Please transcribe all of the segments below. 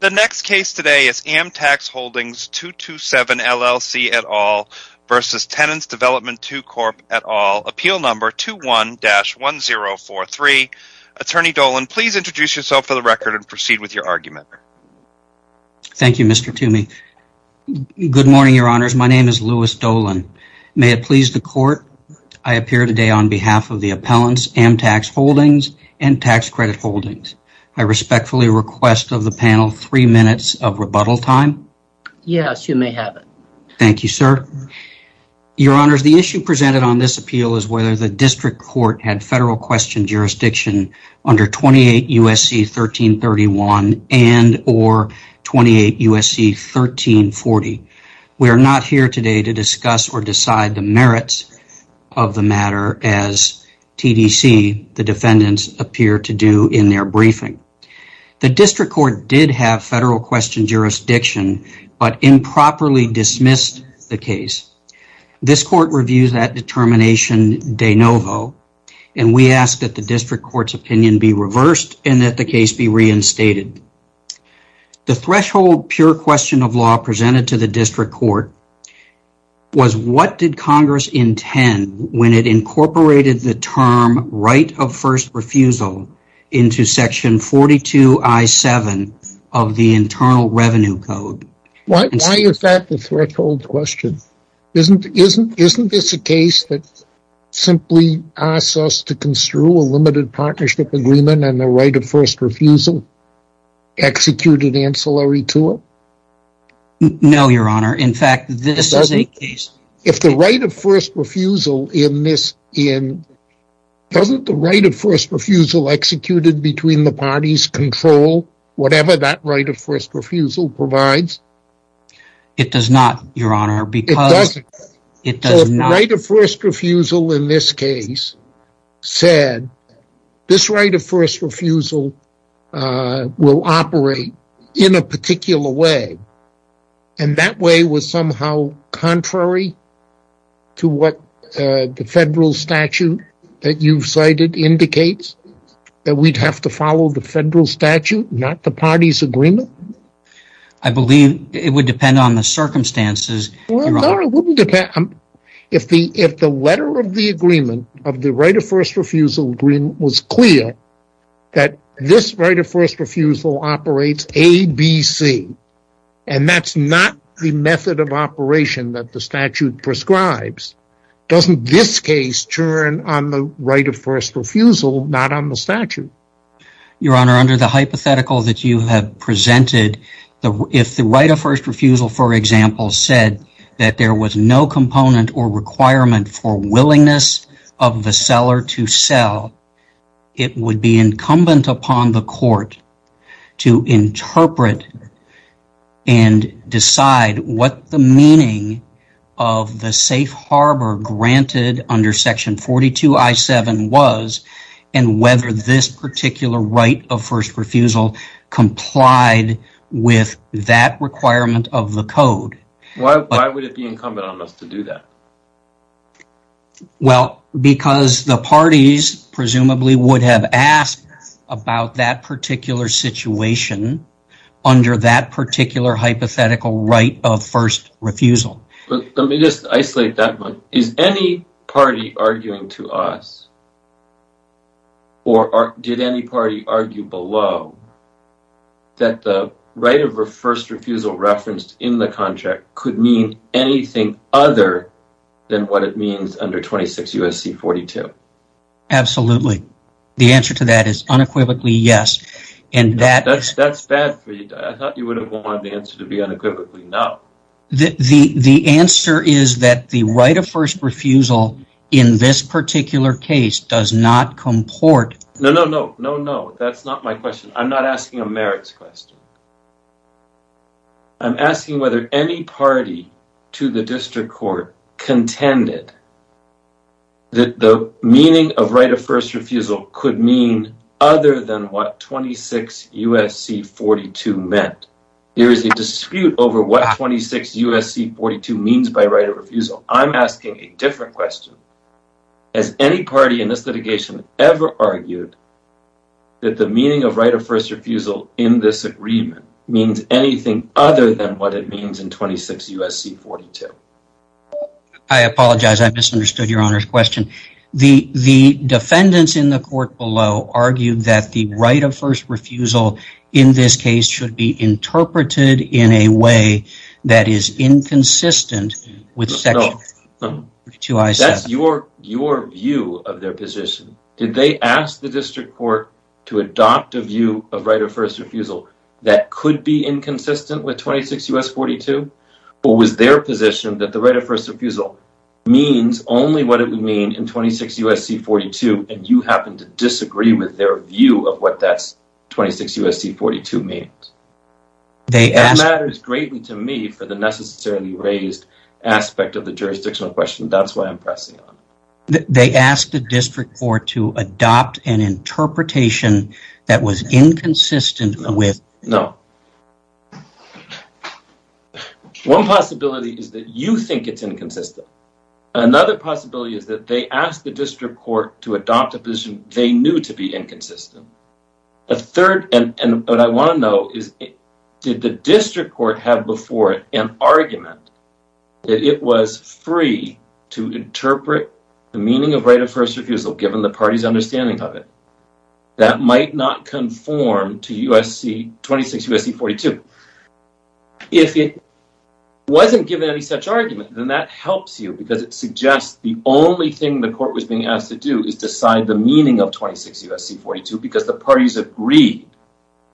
The next case today is AMTAX Holdings 227, LLC, et al. v. Tenants' Development II Corp, et al. Appeal Number 21-1043. Attorney Dolan, please introduce yourself for the record and proceed with your argument. Thank you, Mr. Toomey. Good morning, Your Honors. My name is Louis Dolan. May it please the Court, I appear today on behalf of the appellants AMTAX Holdings and Tax Credit Holdings. I respectfully request of the panel three minutes of rebuttal time. Yes, you may have it. Thank you, sir. Your Honors, the issue presented on this appeal is whether the District Court had federal question jurisdiction under 28 U.S.C. 1331 and or 28 U.S.C. 1340. We are not here today to discuss or decide the merits of the matter as TDC, the defendants, appear to do in their briefing. The District Court did have federal question jurisdiction but improperly dismissed the case. This Court reviews that determination de novo and we ask that the District Court's opinion be reversed and that the case be reinstated. The threshold pure question of law presented to the District Court was what did Congress intend when it incorporated the term right of first refusal into section 42 I-7 of the Internal Revenue Code. Why is that the threshold question? Isn't this a case that simply asks us to construe a limited partnership agreement and the right of first refusal executed ancillary to it? No, Your Honor. In fact, this is a case. If the right of first refusal in this in, doesn't the right of first refusal executed between the parties control whatever that right of first refusal provides? It does not, Your Honor, because it does not. The right of first refusal will operate in a particular way and that way was somehow contrary to what the federal statute that you've cited indicates that we'd have to follow the federal statute, not the party's agreement. I believe it would depend on the circumstances. It wouldn't depend on the circumstances. If the letter of the agreement of the right of first refusal agreement was clear that this right of first refusal operates A, B, C, and that's not the method of operation that the statute prescribes, doesn't this case turn on the right of first refusal, not on the statute? Your Honor, under the hypothetical that you have presented, if the right of first refusal, for example, said that there was no component or requirement for willingness of the seller to sell, it would be incumbent upon the court to interpret and decide what the meaning of the safe harbor granted under section 42 I-7 was and whether this particular right of first refusal complied with that requirement of the code. Why would it be incumbent on us to do that? Well, because the parties presumably would have asked about that particular situation under that particular hypothetical right of first refusal. Let me just ask, did any party argue below that the right of first refusal referenced in the contract could mean anything other than what it means under 26 U.S.C. 42? Absolutely. The answer to that is unequivocally yes. That's bad for you. I thought you would have wanted the answer to be unequivocally no. The answer is that the right of first refusal in this particular case does not comport. No, no, no, no, no. That's not my question. I'm not asking a merits question. I'm asking whether any party to the district court contended that the meaning of right of first refusal could mean other than what 26 U.S.C. 42 meant. There is a dispute over what 26 U.S.C. 42 means by right of refusal. I'm asking a different question. Has any party in this litigation ever argued that the meaning of right of first refusal in this agreement means anything other than what it means in 26 U.S.C. 42? I apologize. I misunderstood your honor's question. The defendants in the court below argued that the right of first refusal in this case should be interpreted in a way that is inconsistent. That's your view of their position. Did they ask the district court to adopt a view of right of first refusal that could be inconsistent with 26 U.S.C. 42? Or was their position that the right of first refusal means only what it would mean in 26 U.S.C. 42 and you happen to disagree with their view of what that 26 U.S.C. 42 means? That matters greatly to me for the necessarily raised aspect of the jurisdictional question. That's why I'm pressing on it. They asked the district court to adopt an interpretation that was inconsistent with... No. One possibility is that you think it's inconsistent. Another possibility is that they asked the district court to adopt a position they knew to be inconsistent. A third, and what I want to know, is did the district court have before it an argument that it was free to interpret the meaning of right of first refusal given the party's understanding of it that might not conform to 26 U.S.C. 42? If it wasn't given any such argument, then that helps you because it suggests the only thing the court was being asked to do is decide the meaning of 26 U.S.C. 42 because the parties agreed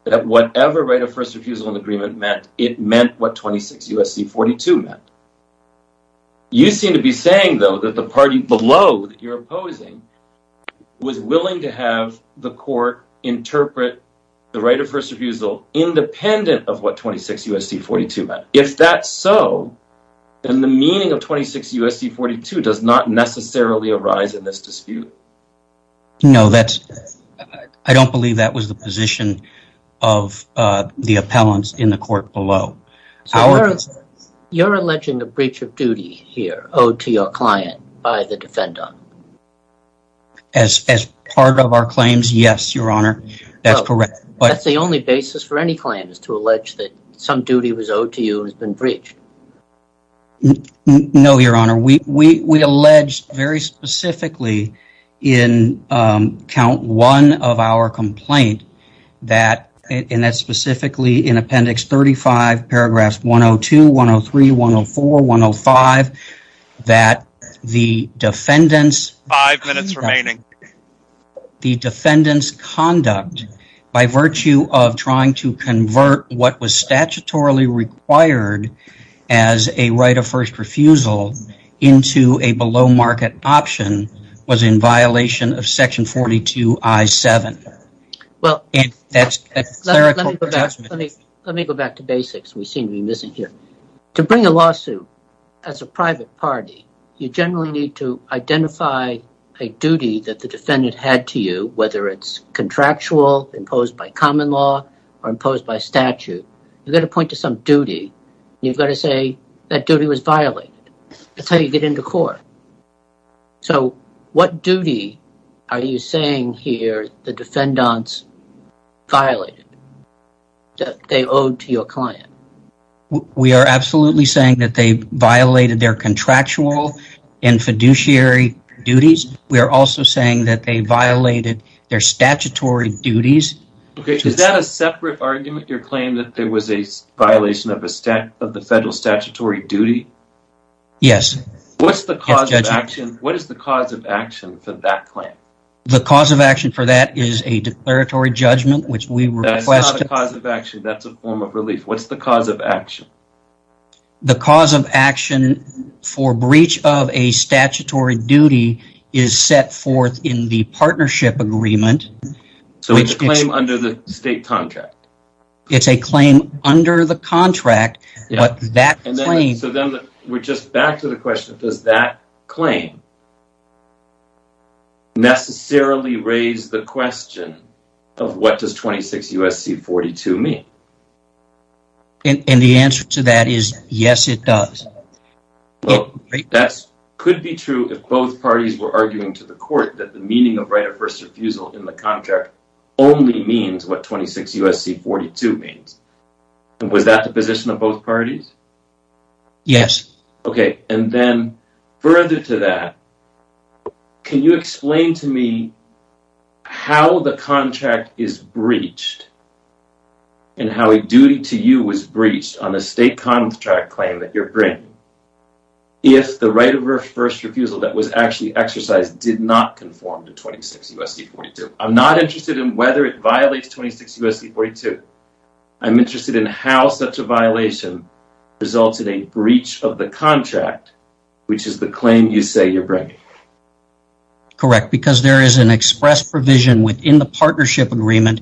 that whatever right of first refusal and agreement meant, it meant what 26 U.S.C. 42 meant. You seem to be saying, though, that the party below that you're opposing was willing to have the court interpret the right of first refusal independent of what 26 U.S.C. 42 meant. If that's so, then the meaning of 26 U.S.C. 42 does not necessarily arise in this dispute. No, that's... I don't believe that was the position of the appellants in the court below. You're alleging a breach of duty here owed to your client by the defendant. As part of our claims, yes, your honor, that's correct. That's the only basis for any claim is to allege that some duty was owed to you has been breached. No, your honor, we alleged very specifically in count one of our complaint that, and that's specifically in appendix 35, paragraphs 102, 103, 104, 105, that the defendants... Five minutes remaining. ...the defendants' conduct by virtue of trying to convert what was statutorily required as a right of first refusal into a below market option was in violation of section 42 I-7. Well, let me go back to basics. We seem to be missing here. To bring a lawsuit as a private party, you generally need to identify a duty that the defendant had to you, whether it's contractual, imposed by common law, or imposed by statute. You've got to point to some duty. You've got to say that duty was violated. That's how you get into court. So what duty are you saying here the defendants violated that they owed to your client? We are absolutely saying that they violated their contractual and fiduciary duties. We are also saying that they violated their statutory duties. Okay, is that a separate argument, your claim that there was a violation of the federal statutory duty? Yes. What's the cause of action? What is the cause of action for that claim? The cause of action for that is a declaratory judgment, which we request... That's not a cause of action. That's a form of relief. What's the cause of action? The cause of action for breach of a statutory duty is set forth in the partnership agreement. So it's a claim under the state contract? It's a claim under the contract, but that claim... So then we're just back to the question, does that claim necessarily raise the question of what does 26 U.S.C. 42 mean? And the answer to that is yes, it does. Well, that could be true if both parties were arguing to the court that the meaning of right of first refusal in the contract only means what 26 U.S.C. 42 means. Was that the position of both parties? Yes. Okay, and then further to that, can you explain to me how the contract is breached and how a duty to you was breached on the state contract claim that you're bringing if the right of first refusal that was actually exercised did not conform to 26 U.S.C. 42? I'm not interested in whether it violates 26 U.S.C. 42. I'm interested in how such a violation resulted in breach of the contract, which is the claim you say you're bringing. Correct, because there is an express provision within the partnership agreement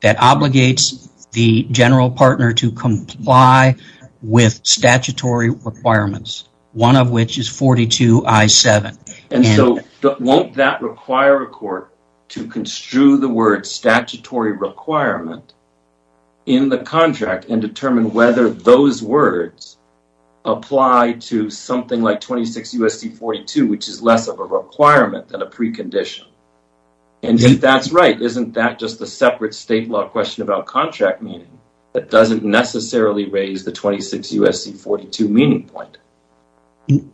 that obligates the general partner to comply with statutory requirements, one of which is 42 I-7. And so won't that require a court to construe the word statutory requirement in the contract and determine whether those words apply to something like 26 U.S.C. 42, which is less of a requirement than a precondition? And if that's right, isn't that just a separate state law question about contract meaning that doesn't necessarily raise the 26 U.S.C. 42 meaning point?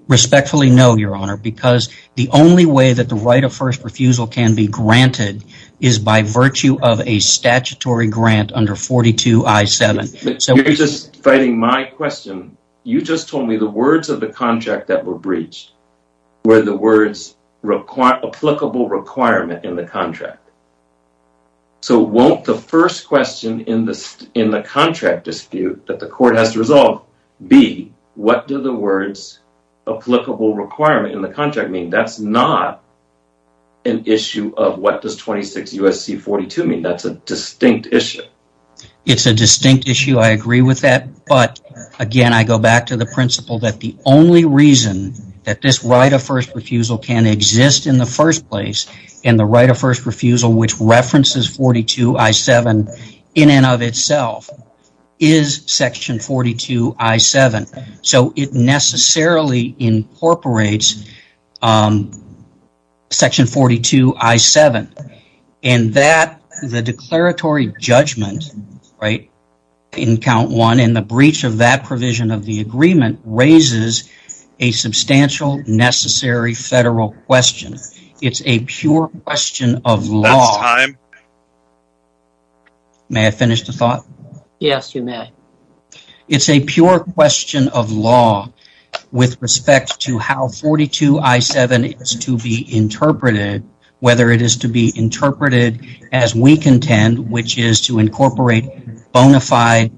Respectfully, no, Your Honor, because the only way that the right of first refusal can be granted is by virtue of a statutory grant under 42 I-7. You're just fighting my question. You just told me the words of the contract that were breached were the words applicable requirement in the contract. So won't the first question in the contract dispute that the court has to resolve be what do the words applicable requirement in the contract mean? That's not an issue of what does 26 U.S.C. 42 mean. That's a distinct issue. It's a distinct issue. I agree with that. But again, I go back to the principle that the only reason that this right of first refusal can exist in the first place and the right of first refusal, which references 42 I-7 in and of itself is section 42 I-7. So it necessarily incorporates section 42 I-7 and that the declaratory judgment, right, in count one and the breach of that provision of the agreement raises a substantial necessary federal question. It's a pure question of law. May I finish the thought? Yes, you may. It's a pure question of law with respect to how 42 I-7 is to be interpreted, whether it is to be interpreted as we contend, which is to incorporate bona fide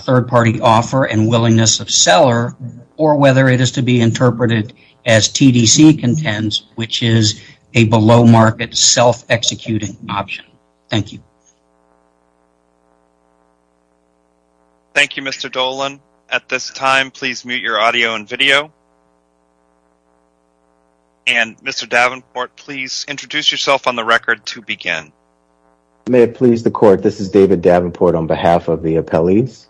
third party offer and willingness of seller, or whether it is to be interpreted as TDC contends, which is a below market self-executing option. Thank you. Thank you, Mr. Dolan. At this time, please mute your audio and video. And Mr. Davenport, please introduce yourself on the record to begin. May it please the court. This is David Davenport on behalf of the appellees.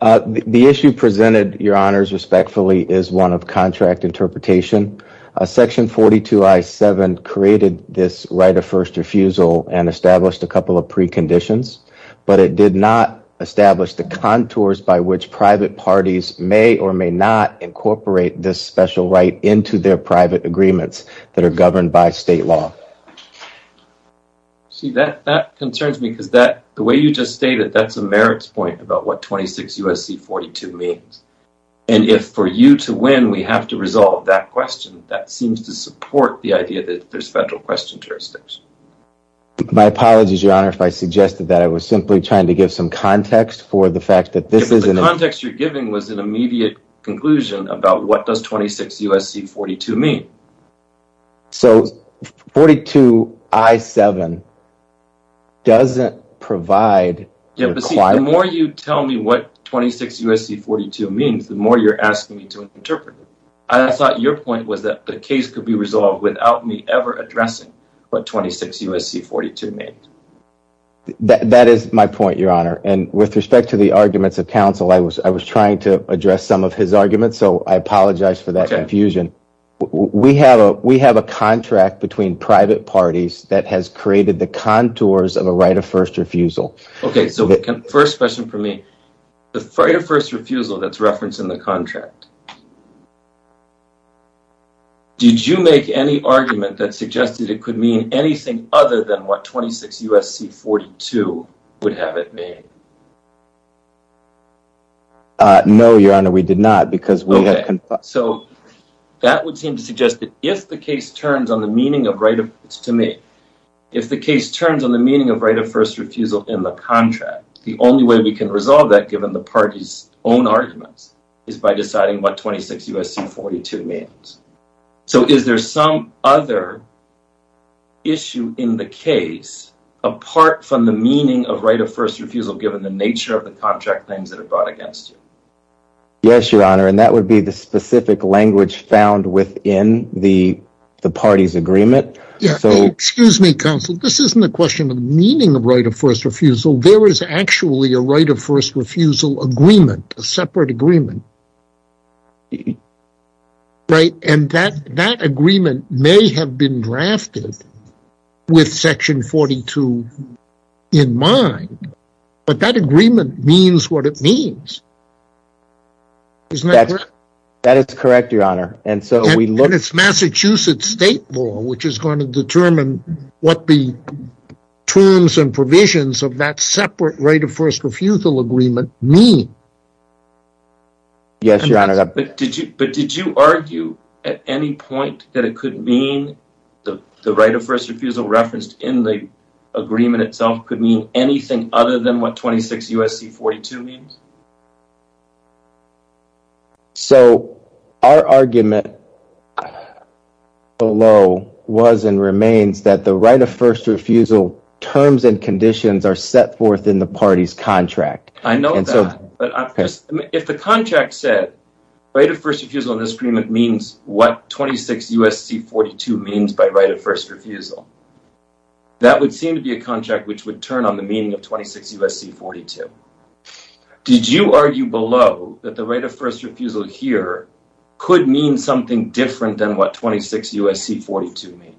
The issue presented, your honors, respectfully is one of contract interpretation. Section 42 I-7 created this right of first refusal and established a couple of preconditions, but it did not establish the contours by which private parties may or may not incorporate this special right into their private agreements that are governed by state law. See, that concerns me because the way you just stated, that's a merits point about what 26 U.S.C. 42 means. And if for you to win, we have to resolve that question, that seems to support the idea that there's federal question jurisdictions. My apologies, your honor, if I suggested that, I was simply trying to give some context for the fact that this isn't. The context you're giving was an immediate conclusion about what does 26 U.S.C. 42 mean. So 42 I-7 doesn't provide. Yeah, but the more you tell me what 26 U.S.C. 42 means, the more you're asking me to interpret it. I thought your point was that the case could be resolved without me ever addressing what 26 U.S.C. 42 means. That is my point, your honor. And with respect to the arguments of counsel, I was trying to address some of his arguments, so I apologize for that confusion. We have a contract between private parties that has created the contours of a right of first refusal. Okay, so first question for me, the right of first refusal that's referenced in the contract, did you make any argument that suggested it could mean anything other than what 26 U.S.C. 42 would have it mean? No, your honor, we did not because we had confirmed. Okay, so that would seem to suggest that if the case turns on the meaning of right of, it's to me, if the case turns on the meaning of right of first refusal in the contract, the only way we can resolve that given the party's own arguments is by deciding what 26 U.S.C. 42 means. So is there some other issue in the case apart from the meaning of right of first refusal, given the nature of the contract claims that are brought against you? Yes, your honor, and that would be the specific language found within the party's agreement. Yeah, excuse me, counsel, this isn't a question of meaning of right of first refusal. There is actually a right of first refusal agreement, a separate agreement, right, and that agreement may have been drafted with section 42 in mind, but that agreement means what it means, isn't that correct? That is correct, your honor, and so we look... And it's Massachusetts state law, which is going to determine what the terms and provisions of that separate right of first refusal agreement mean. Yes, your honor, but did you argue at any point that it could mean the right of first refusal referenced in the agreement itself could mean anything other than what 26 U.S.C. 42 means? So, our argument below was and remains that the right of first refusal terms and conditions are set forth in the party's contract. I know that, but if the contract said right of first refusal in this agreement means what 26 U.S.C. 42 means by right of first refusal, that would seem to be a contract which would turn on the meaning of 26 U.S.C. 42. Did you argue below that the right of first refusal here could mean something different than what 26 U.S.C. 42 means?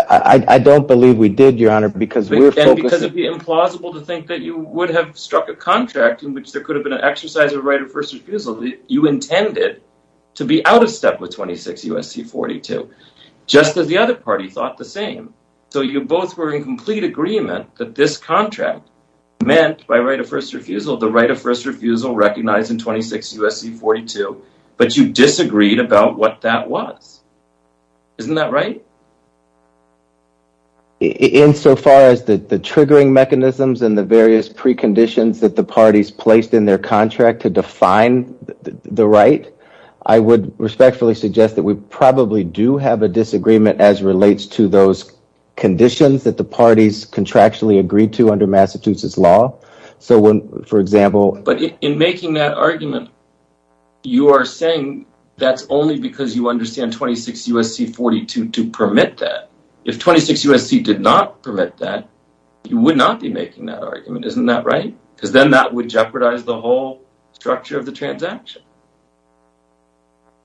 I don't believe we did, your honor, because we're focusing... And because it'd be implausible to think that you would have struck a contract in which there could have been an exercise of right of first refusal that you intended to be out of step with 26 U.S.C. 42, just as the other party thought the same. So, you both were in complete agreement that this contract meant by right of first refusal the right of first refusal recognized in 26 U.S.C. 42, but you disagreed about what that was. Isn't that right? Insofar as the triggering mechanisms and the various preconditions that the parties placed in their contract to define the right, I would respectfully suggest that we probably do have a disagreement as relates to those conditions that the parties contractually agreed to under Massachusetts law. So, for example... But in making that argument, you are saying that's only because you understand 26 U.S.C. 42 to permit that. If 26 U.S.C. did not permit that, you would not be making that argument. Isn't that right? Because then that would jeopardize the whole structure of the transaction.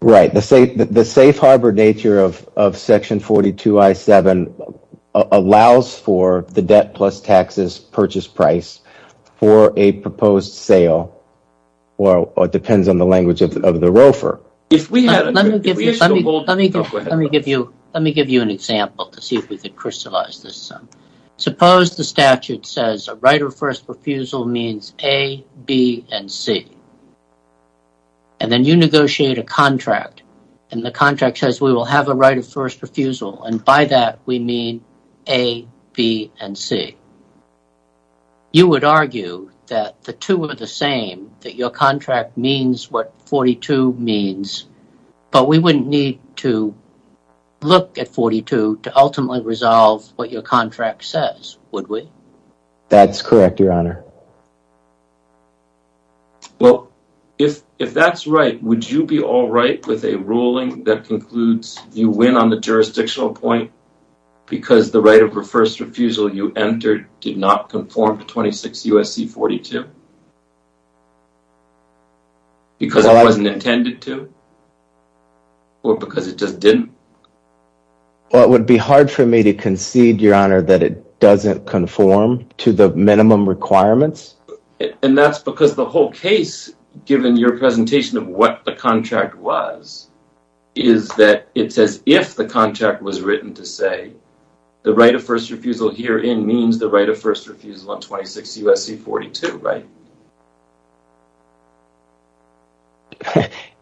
Right. The safe harbor nature of Section 42.I.7 allows for the debt plus taxes purchase price for a proposed sale, or it depends on the language of the roofer. If we had a... Let me give you an example to see if we could crystallize this. Suppose the statute says a right of first refusal means A, B, and C. And then you negotiate a contract, and the contract says we will have a right of first refusal, and by that we mean A, B, and C. You would argue that the two are the same, that your contract means what 42 means, but we wouldn't need to look at 42 to ultimately resolve what your contract says, would we? That's correct, Your Honor. Well, if that's right, would you be all right with a ruling that concludes you win on the jurisdictional point because the right of first refusal you entered did not conform to 26 U.S.C. 42? Because it wasn't intended to? Or because it just didn't? Well, it would be hard for me to concede, Your Honor, that it doesn't conform to the minimum requirement. And that's because the whole case, given your presentation of what the contract was, is that it says if the contract was written to say the right of first refusal herein means the right of first refusal on 26 U.S.C. 42, right?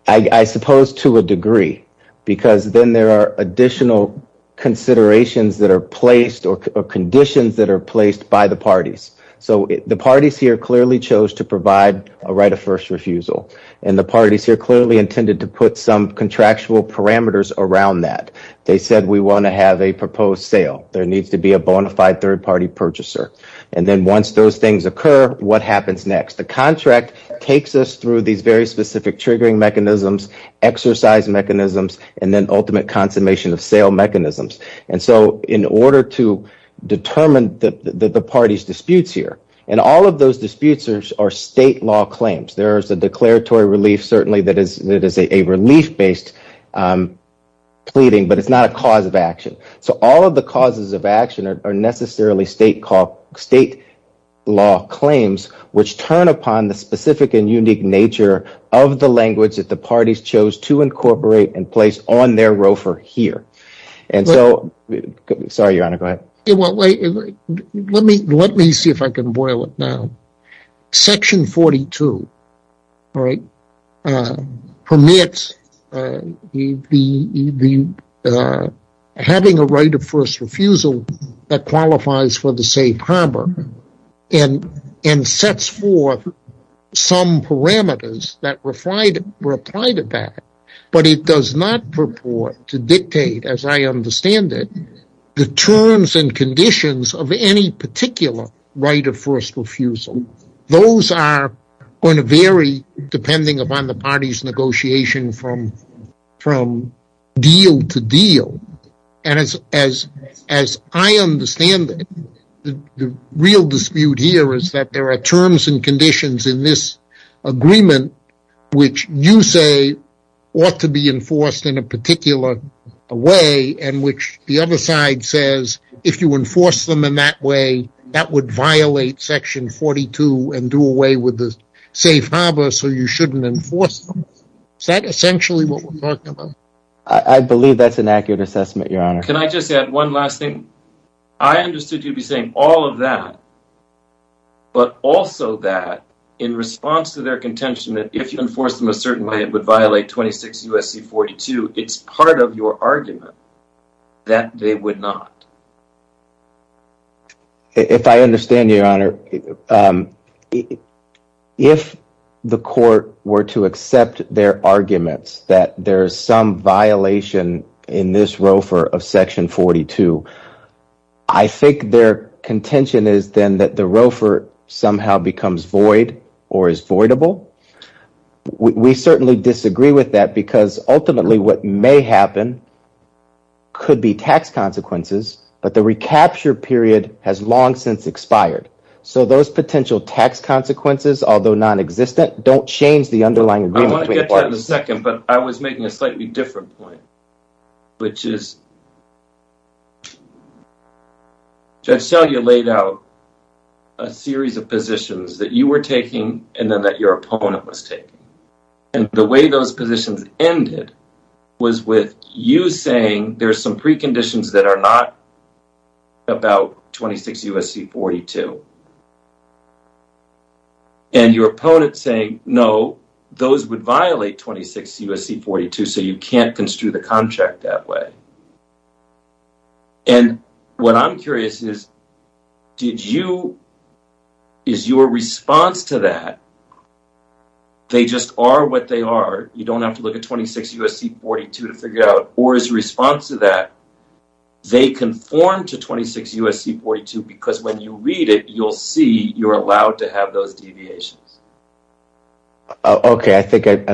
I suppose to a degree, because then there are additional considerations that are placed or conditions that are placed by the parties. So the parties here clearly chose to provide a right of first refusal, and the parties here clearly intended to put some contractual parameters around that. They said we want to have a proposed sale. There needs to be a bona fide third-party purchaser. And then once those things occur, what happens next? The contract takes us through these very specific triggering mechanisms, exercise mechanisms, and then ultimate consummation of sale mechanisms. And so in order to determine the parties' disputes here, and all of those disputes are state law claims. There is a declaratory relief, certainly, that is a relief-based pleading, but it's not a cause of action. So all of the causes of action are necessarily state law claims, which turn upon the specific and unique nature of the language that the parties chose to incorporate and place on their ROFR here. And so, sorry, Your Honor, go ahead. Let me see if I can boil it down. Section 42, all right, permits having a right of first refusal that qualifies for the safe harbor and sets forth some parameters that were applied to that. But it does not purport to dictate, as I understand it, the terms and conditions of any particular right of first refusal. Those are going to vary depending upon the parties' negotiation from deal to deal. And as I understand it, the real dispute here is that there are terms and conditions in this agreement which you say ought to be enforced in a particular way, and which the other side says if you enforce them in that way, that would violate Section 42 and do away with the safe harbor, so you shouldn't enforce them. Is that essentially what we're talking about? I believe that's an accurate assessment, Your Honor. Can I just add one last thing? I understood you'd be saying all of that, but also that in response to their contention that if you enforce them a certain way, it would violate 26 U.S.C. 42. It's part of your argument that they would not. If I understand you, Your Honor, if the court were to accept their arguments that there is some violation in this ROFR of Section 42, I think their contention is then that the ROFR somehow becomes void or is voidable. We certainly disagree with that because ultimately what may happen could be tax consequences, but the recapture period has long since expired. So those potential tax consequences, although nonexistent, don't change the underlying agreement between parties. I was making a slightly different point, which is Judge Selya laid out a series of positions that you were taking and then that your opponent was taking, and the way those positions ended was with you saying there are some preconditions that are not about 26 U.S.C. 42, and your opponent saying, no, those would violate 26 U.S.C. 42, so you can't construe the contract that way. And what I'm curious is, is your response to that, they just are what they are? You don't have to look at 26 U.S.C. 42 to figure it out. Or is your response to that, they conform to 26 U.S.C. 42 because when you read it, you'll see you're allowed to have those deviations? Okay, I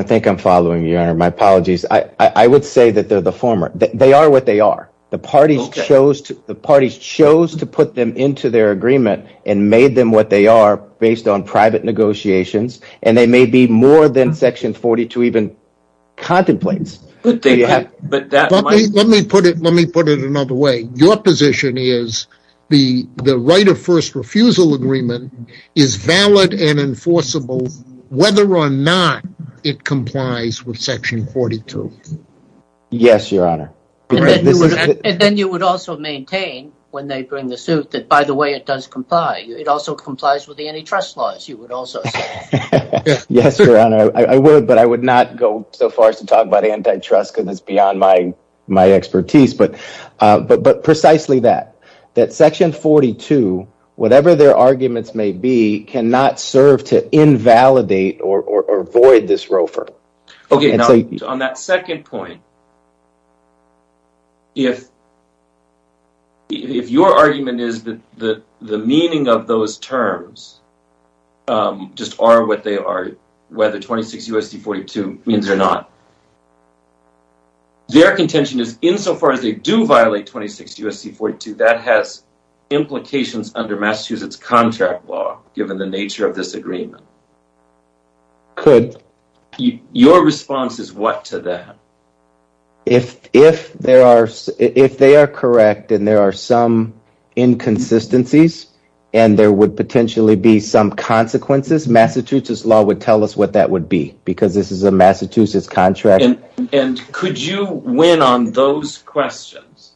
think I'm following you, Your Honor. My apologies. I would say that they're the former. They are what they are. The parties chose to put them into their agreement and made them what they are based on private negotiations, and they may be more than Section 42 even contemplates. Let me put it another way. Your position is the right of first refusal agreement is valid and enforceable whether or not it complies with Section 42. Yes, Your Honor. And then you would also maintain when they bring the suit that, by the way, it does comply. It also complies with the antitrust laws, you would also say. Yes, Your Honor, I would, but I would not go so far as to talk about antitrust because it's beyond my expertise, but precisely that. That Section 42, whatever their arguments may be, cannot serve to invalidate or avoid this ROFR. Okay, now on that second point, if your argument is that the meaning of those terms just are whether 26 U.S.C. 42 means or not. Their contention is insofar as they do violate 26 U.S.C. 42, that has implications under Massachusetts contract law, given the nature of this agreement. Your response is what to that? If they are correct and there are some inconsistencies and there would potentially be some consequences, Massachusetts law would tell us what that would be, because this is a Massachusetts contract. And could you win on those questions?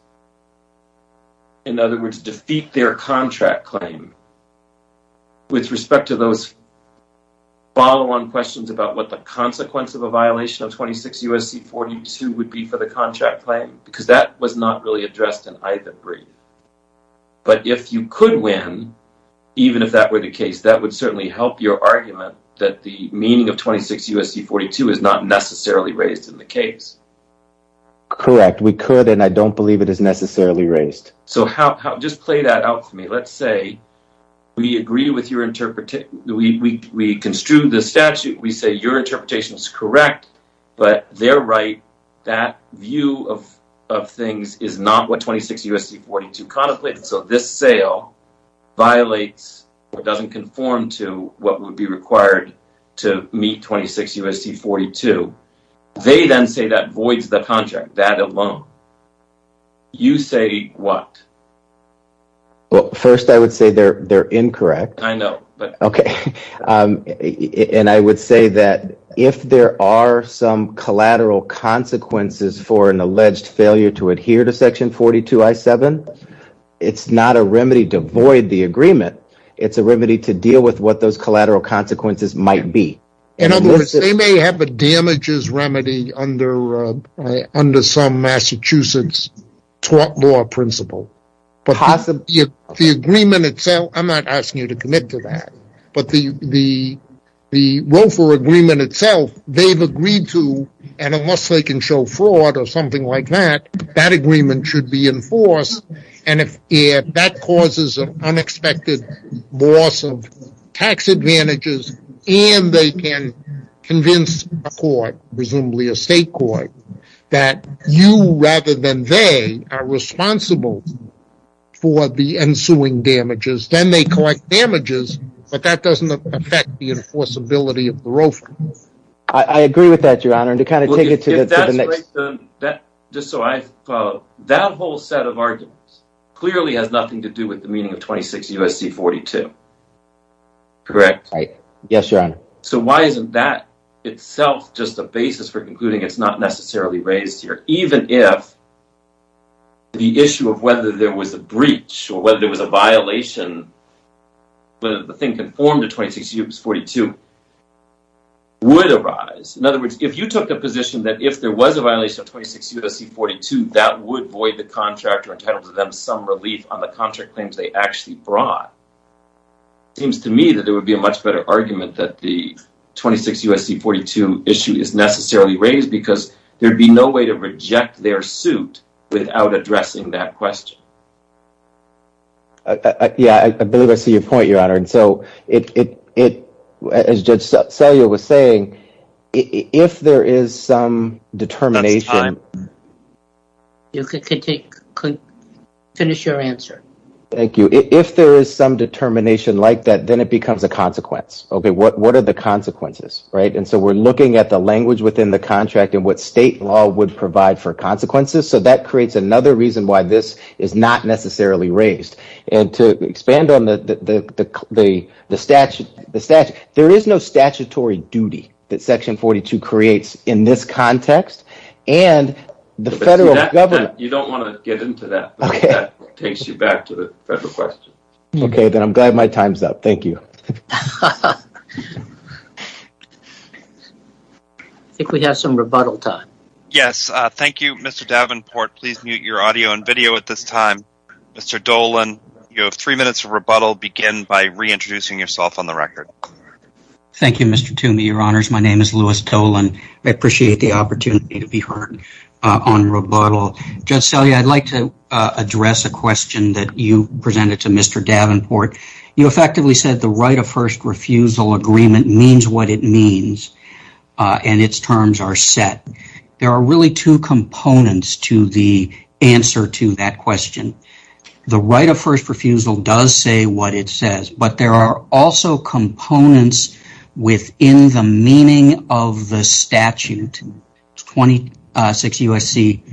In other words, defeat their contract claim with respect to those follow-on questions about what the consequence of a violation of 26 U.S.C. 42 would be for the contract claim, because that was not really addressed in either brief. But if you could win, even if that were the case, that would certainly help your argument that the meaning of 26 U.S.C. 42 is not necessarily raised in the case. Correct. We could, and I don't believe it is necessarily raised. So just play that out for me. Let's say we agree with your interpretation, we construe the statute, we say your of things is not what 26 U.S.C. 42 contemplates. So this sale violates or doesn't conform to what would be required to meet 26 U.S.C. 42. They then say that voids the contract, that alone. You say what? Well, first I would say they're incorrect. I know. But okay. And I would say that if there are some collateral consequences for an alleged failure to adhere to Section 42 I-7, it's not a remedy to void the agreement. It's a remedy to deal with what those collateral consequences might be. In other words, they may have a damages remedy under some Massachusetts tort law principle. The agreement itself, I'm not asking you to commit to that. But the ROFA agreement itself, they've agreed to, and unless they can show fraud or something like that, that agreement should be enforced. And if that causes an unexpected loss of tax advantages and they can convince a court, presumably a state court, that you rather than they are responsible for the ensuing damages, then they correct damages. But that doesn't affect the enforceability of the ROFA. I agree with that, Your Honor. And to kind of take it to the next- Just so I follow, that whole set of arguments clearly has nothing to do with the meaning of 26 U.S.C. 42. Correct? Right. Yes, Your Honor. So why isn't that itself just a basis for concluding it's not necessarily raised here? Even if the issue of whether there was a breach or whether there was a violation, whether the thing conformed to 26 U.S.C. 42 would arise. In other words, if you took the position that if there was a violation of 26 U.S.C. 42, that would void the contractor entitled to them some relief on the contract claims they actually brought. It seems to me that there would be a much better argument that the 26 U.S.C. 42 issue is necessarily raised because there'd be no way to reject their suit without addressing that question. Yeah, I believe I see your point, Your Honor. And so, as Judge Selye was saying, if there is some determination- That's time. You could finish your answer. Thank you. If there is some determination like that, then it becomes a consequence. OK, what are the consequences, right? So, we're looking at the language within the contract and what state law would provide for consequences. So, that creates another reason why this is not necessarily raised. And to expand on the statute, there is no statutory duty that Section 42 creates in this context and the federal government- You don't want to get into that, but that takes you back to the federal question. OK, then I'm glad my time's up. Thank you. I think we have some rebuttal time. Yes, thank you, Mr. Davenport. Please mute your audio and video at this time. Mr. Dolan, you have three minutes of rebuttal. Begin by reintroducing yourself on the record. Thank you, Mr. Toomey, Your Honors. My name is Louis Dolan. I appreciate the opportunity to be heard on rebuttal. Judge Selye, I'd like to address a question that you presented to Mr. Davenport. You effectively said the right of first refusal agreement means what it means and its terms are set. There are really two components to the answer to that question. The right of first refusal does say what it says, but there are also components within the meaning of the statute, 26 U.S.C.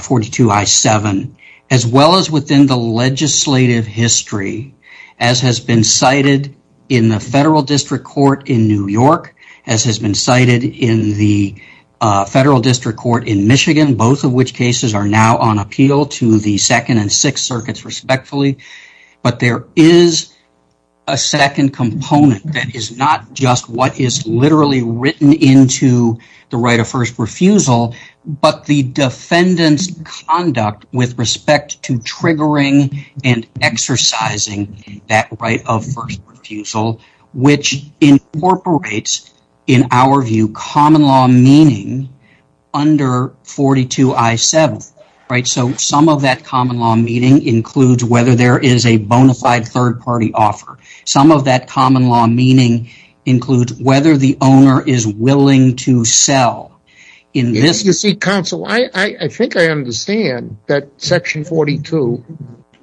42 I-7, as well as within the legislative history as has been cited in the Federal District Court in New York, as has been cited in the Federal District Court in Michigan, both of which cases are now on appeal to the Second and Sixth Circuits, respectfully. But there is a second component that is not just what is literally written into the right of first refusal, but the defendant's conduct with respect to triggering and exercising that right of first refusal, which incorporates, in our view, common law meaning under 42 I-7, right? So some of that common law meaning includes whether there is a bona fide third party offer. Some of that common law meaning includes whether the owner is willing to sell. You see, counsel, I think I understand that section 42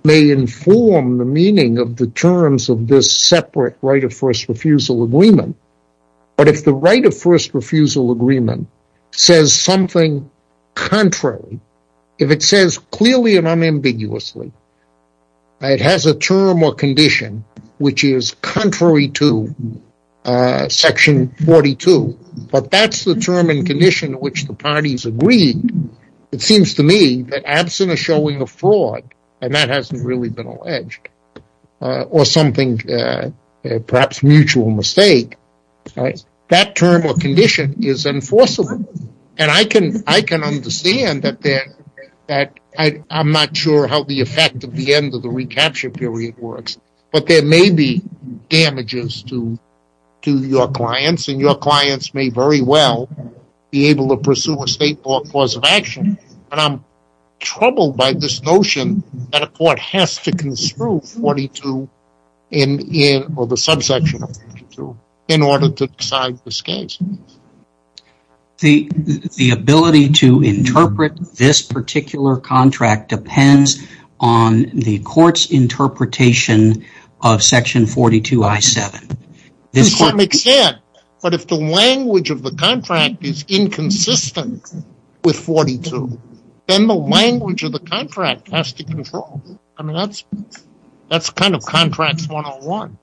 may inform the meaning of the terms of this separate right of first refusal agreement. But if the right of first refusal agreement says something contrary, if it says clearly and unambiguously, it has a term or condition which is contrary to section 42, but that's the term and condition which the parties agreed, it seems to me that absent of showing a fraud, and that hasn't really been alleged, or something perhaps mutual mistake, that term or condition is enforceable. And I can understand that I'm not sure how the effect of the end of the recapture period works. But there may be damages to your clients, and your clients may very well be able to pursue a state court cause of action. But I'm troubled by this notion that a court has to construe 42 or the subsection of 42 in order to decide this case. The ability to interpret this particular contract depends on the court's interpretation of section 42 I7. To some extent, but if the language of the contract is inconsistent with 42, then the language of the contract has to control. I mean, that's kind of contracts 101.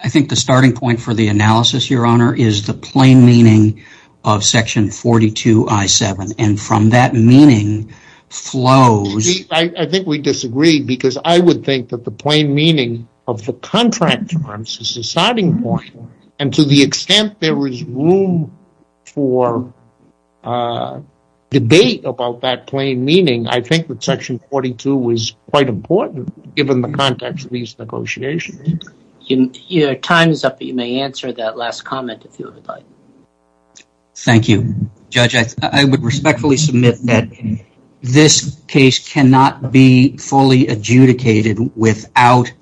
I think the starting point for the analysis, your honor, is the plain meaning of section 42 I7. And from that meaning flows. I think we disagree, because I would think that the plain meaning of the contract terms is the starting point, and to the extent there is room for debate about that plain meaning, I think that section 42 is quite important, given the context of these negotiations. Your time is up, but you may answer that last comment if you would like. Thank you. Judge, I would respectfully submit that this case cannot be fully adjudicated without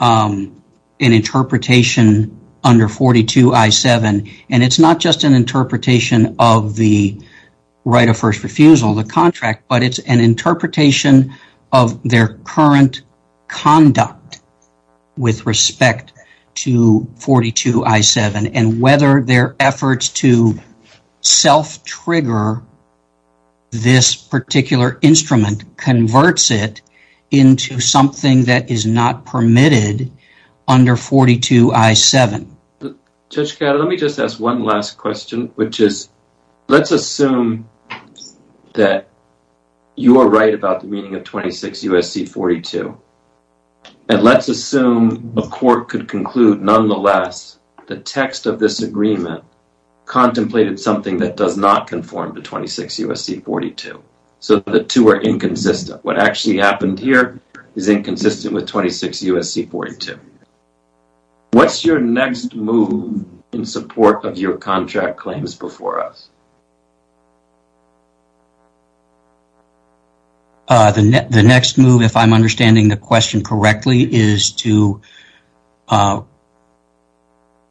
an interpretation under 42 I7. And it's not just an interpretation of the right of first refusal of the contract, but it's an interpretation of their current conduct with respect to 42 I7, and whether their efforts to self-trigger this particular instrument converts it into something that is not permitted under 42 I7. Judge Cato, let me just ask one last question, which is, let's assume that you are right about the meaning of 26 U.S.C. 42, and let's assume a court could conclude, nonetheless, the text of this agreement contemplated something that does not conform to 26 U.S.C. 42. So the two are inconsistent. What actually happened here is inconsistent with 26 U.S.C. 42. What's your next move in support of your contract claims before us? The next move, if I'm understanding the question correctly, is to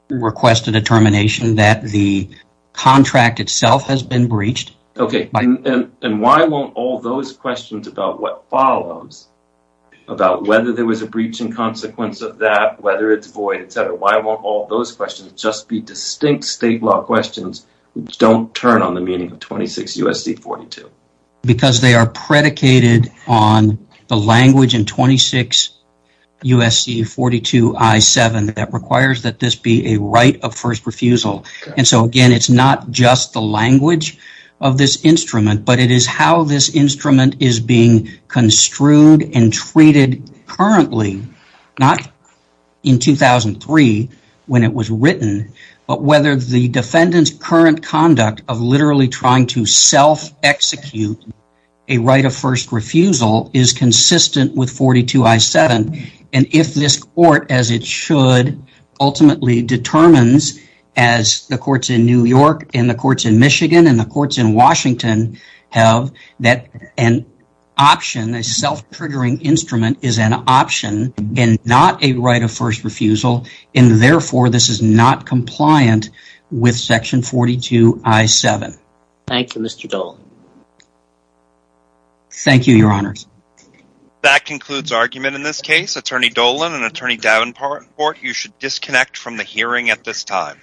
request a determination that the contract itself has been breached. Okay, and why won't all those questions about what follows, about whether there was a breach in consequence of that, whether it's void, et cetera, why won't all those questions just be distinct state law questions which don't turn on the meaning of 26 U.S.C. 42? Because they are predicated on the language in 26 U.S.C. 42 I7 that requires that this be a right of first refusal. And so, again, it's not just the language of this instrument, but it is how this instrument is being construed and treated currently, not in 2003 when it was written, but whether the defendant's current conduct of literally trying to self-execute a right of first refusal is consistent with 42 I7. And if this court, as it should, ultimately determines, as the courts in New York and the courts in Michigan and the courts in Washington have, that an option, a self-triggering instrument is an option and not a right of first refusal, and therefore this is not compliant with section 42 I7. Thank you, Mr. Dolan. Thank you, Your Honors. That concludes argument in this case. Attorney Dolan and Attorney Davenport, you should disconnect from the hearing at this time.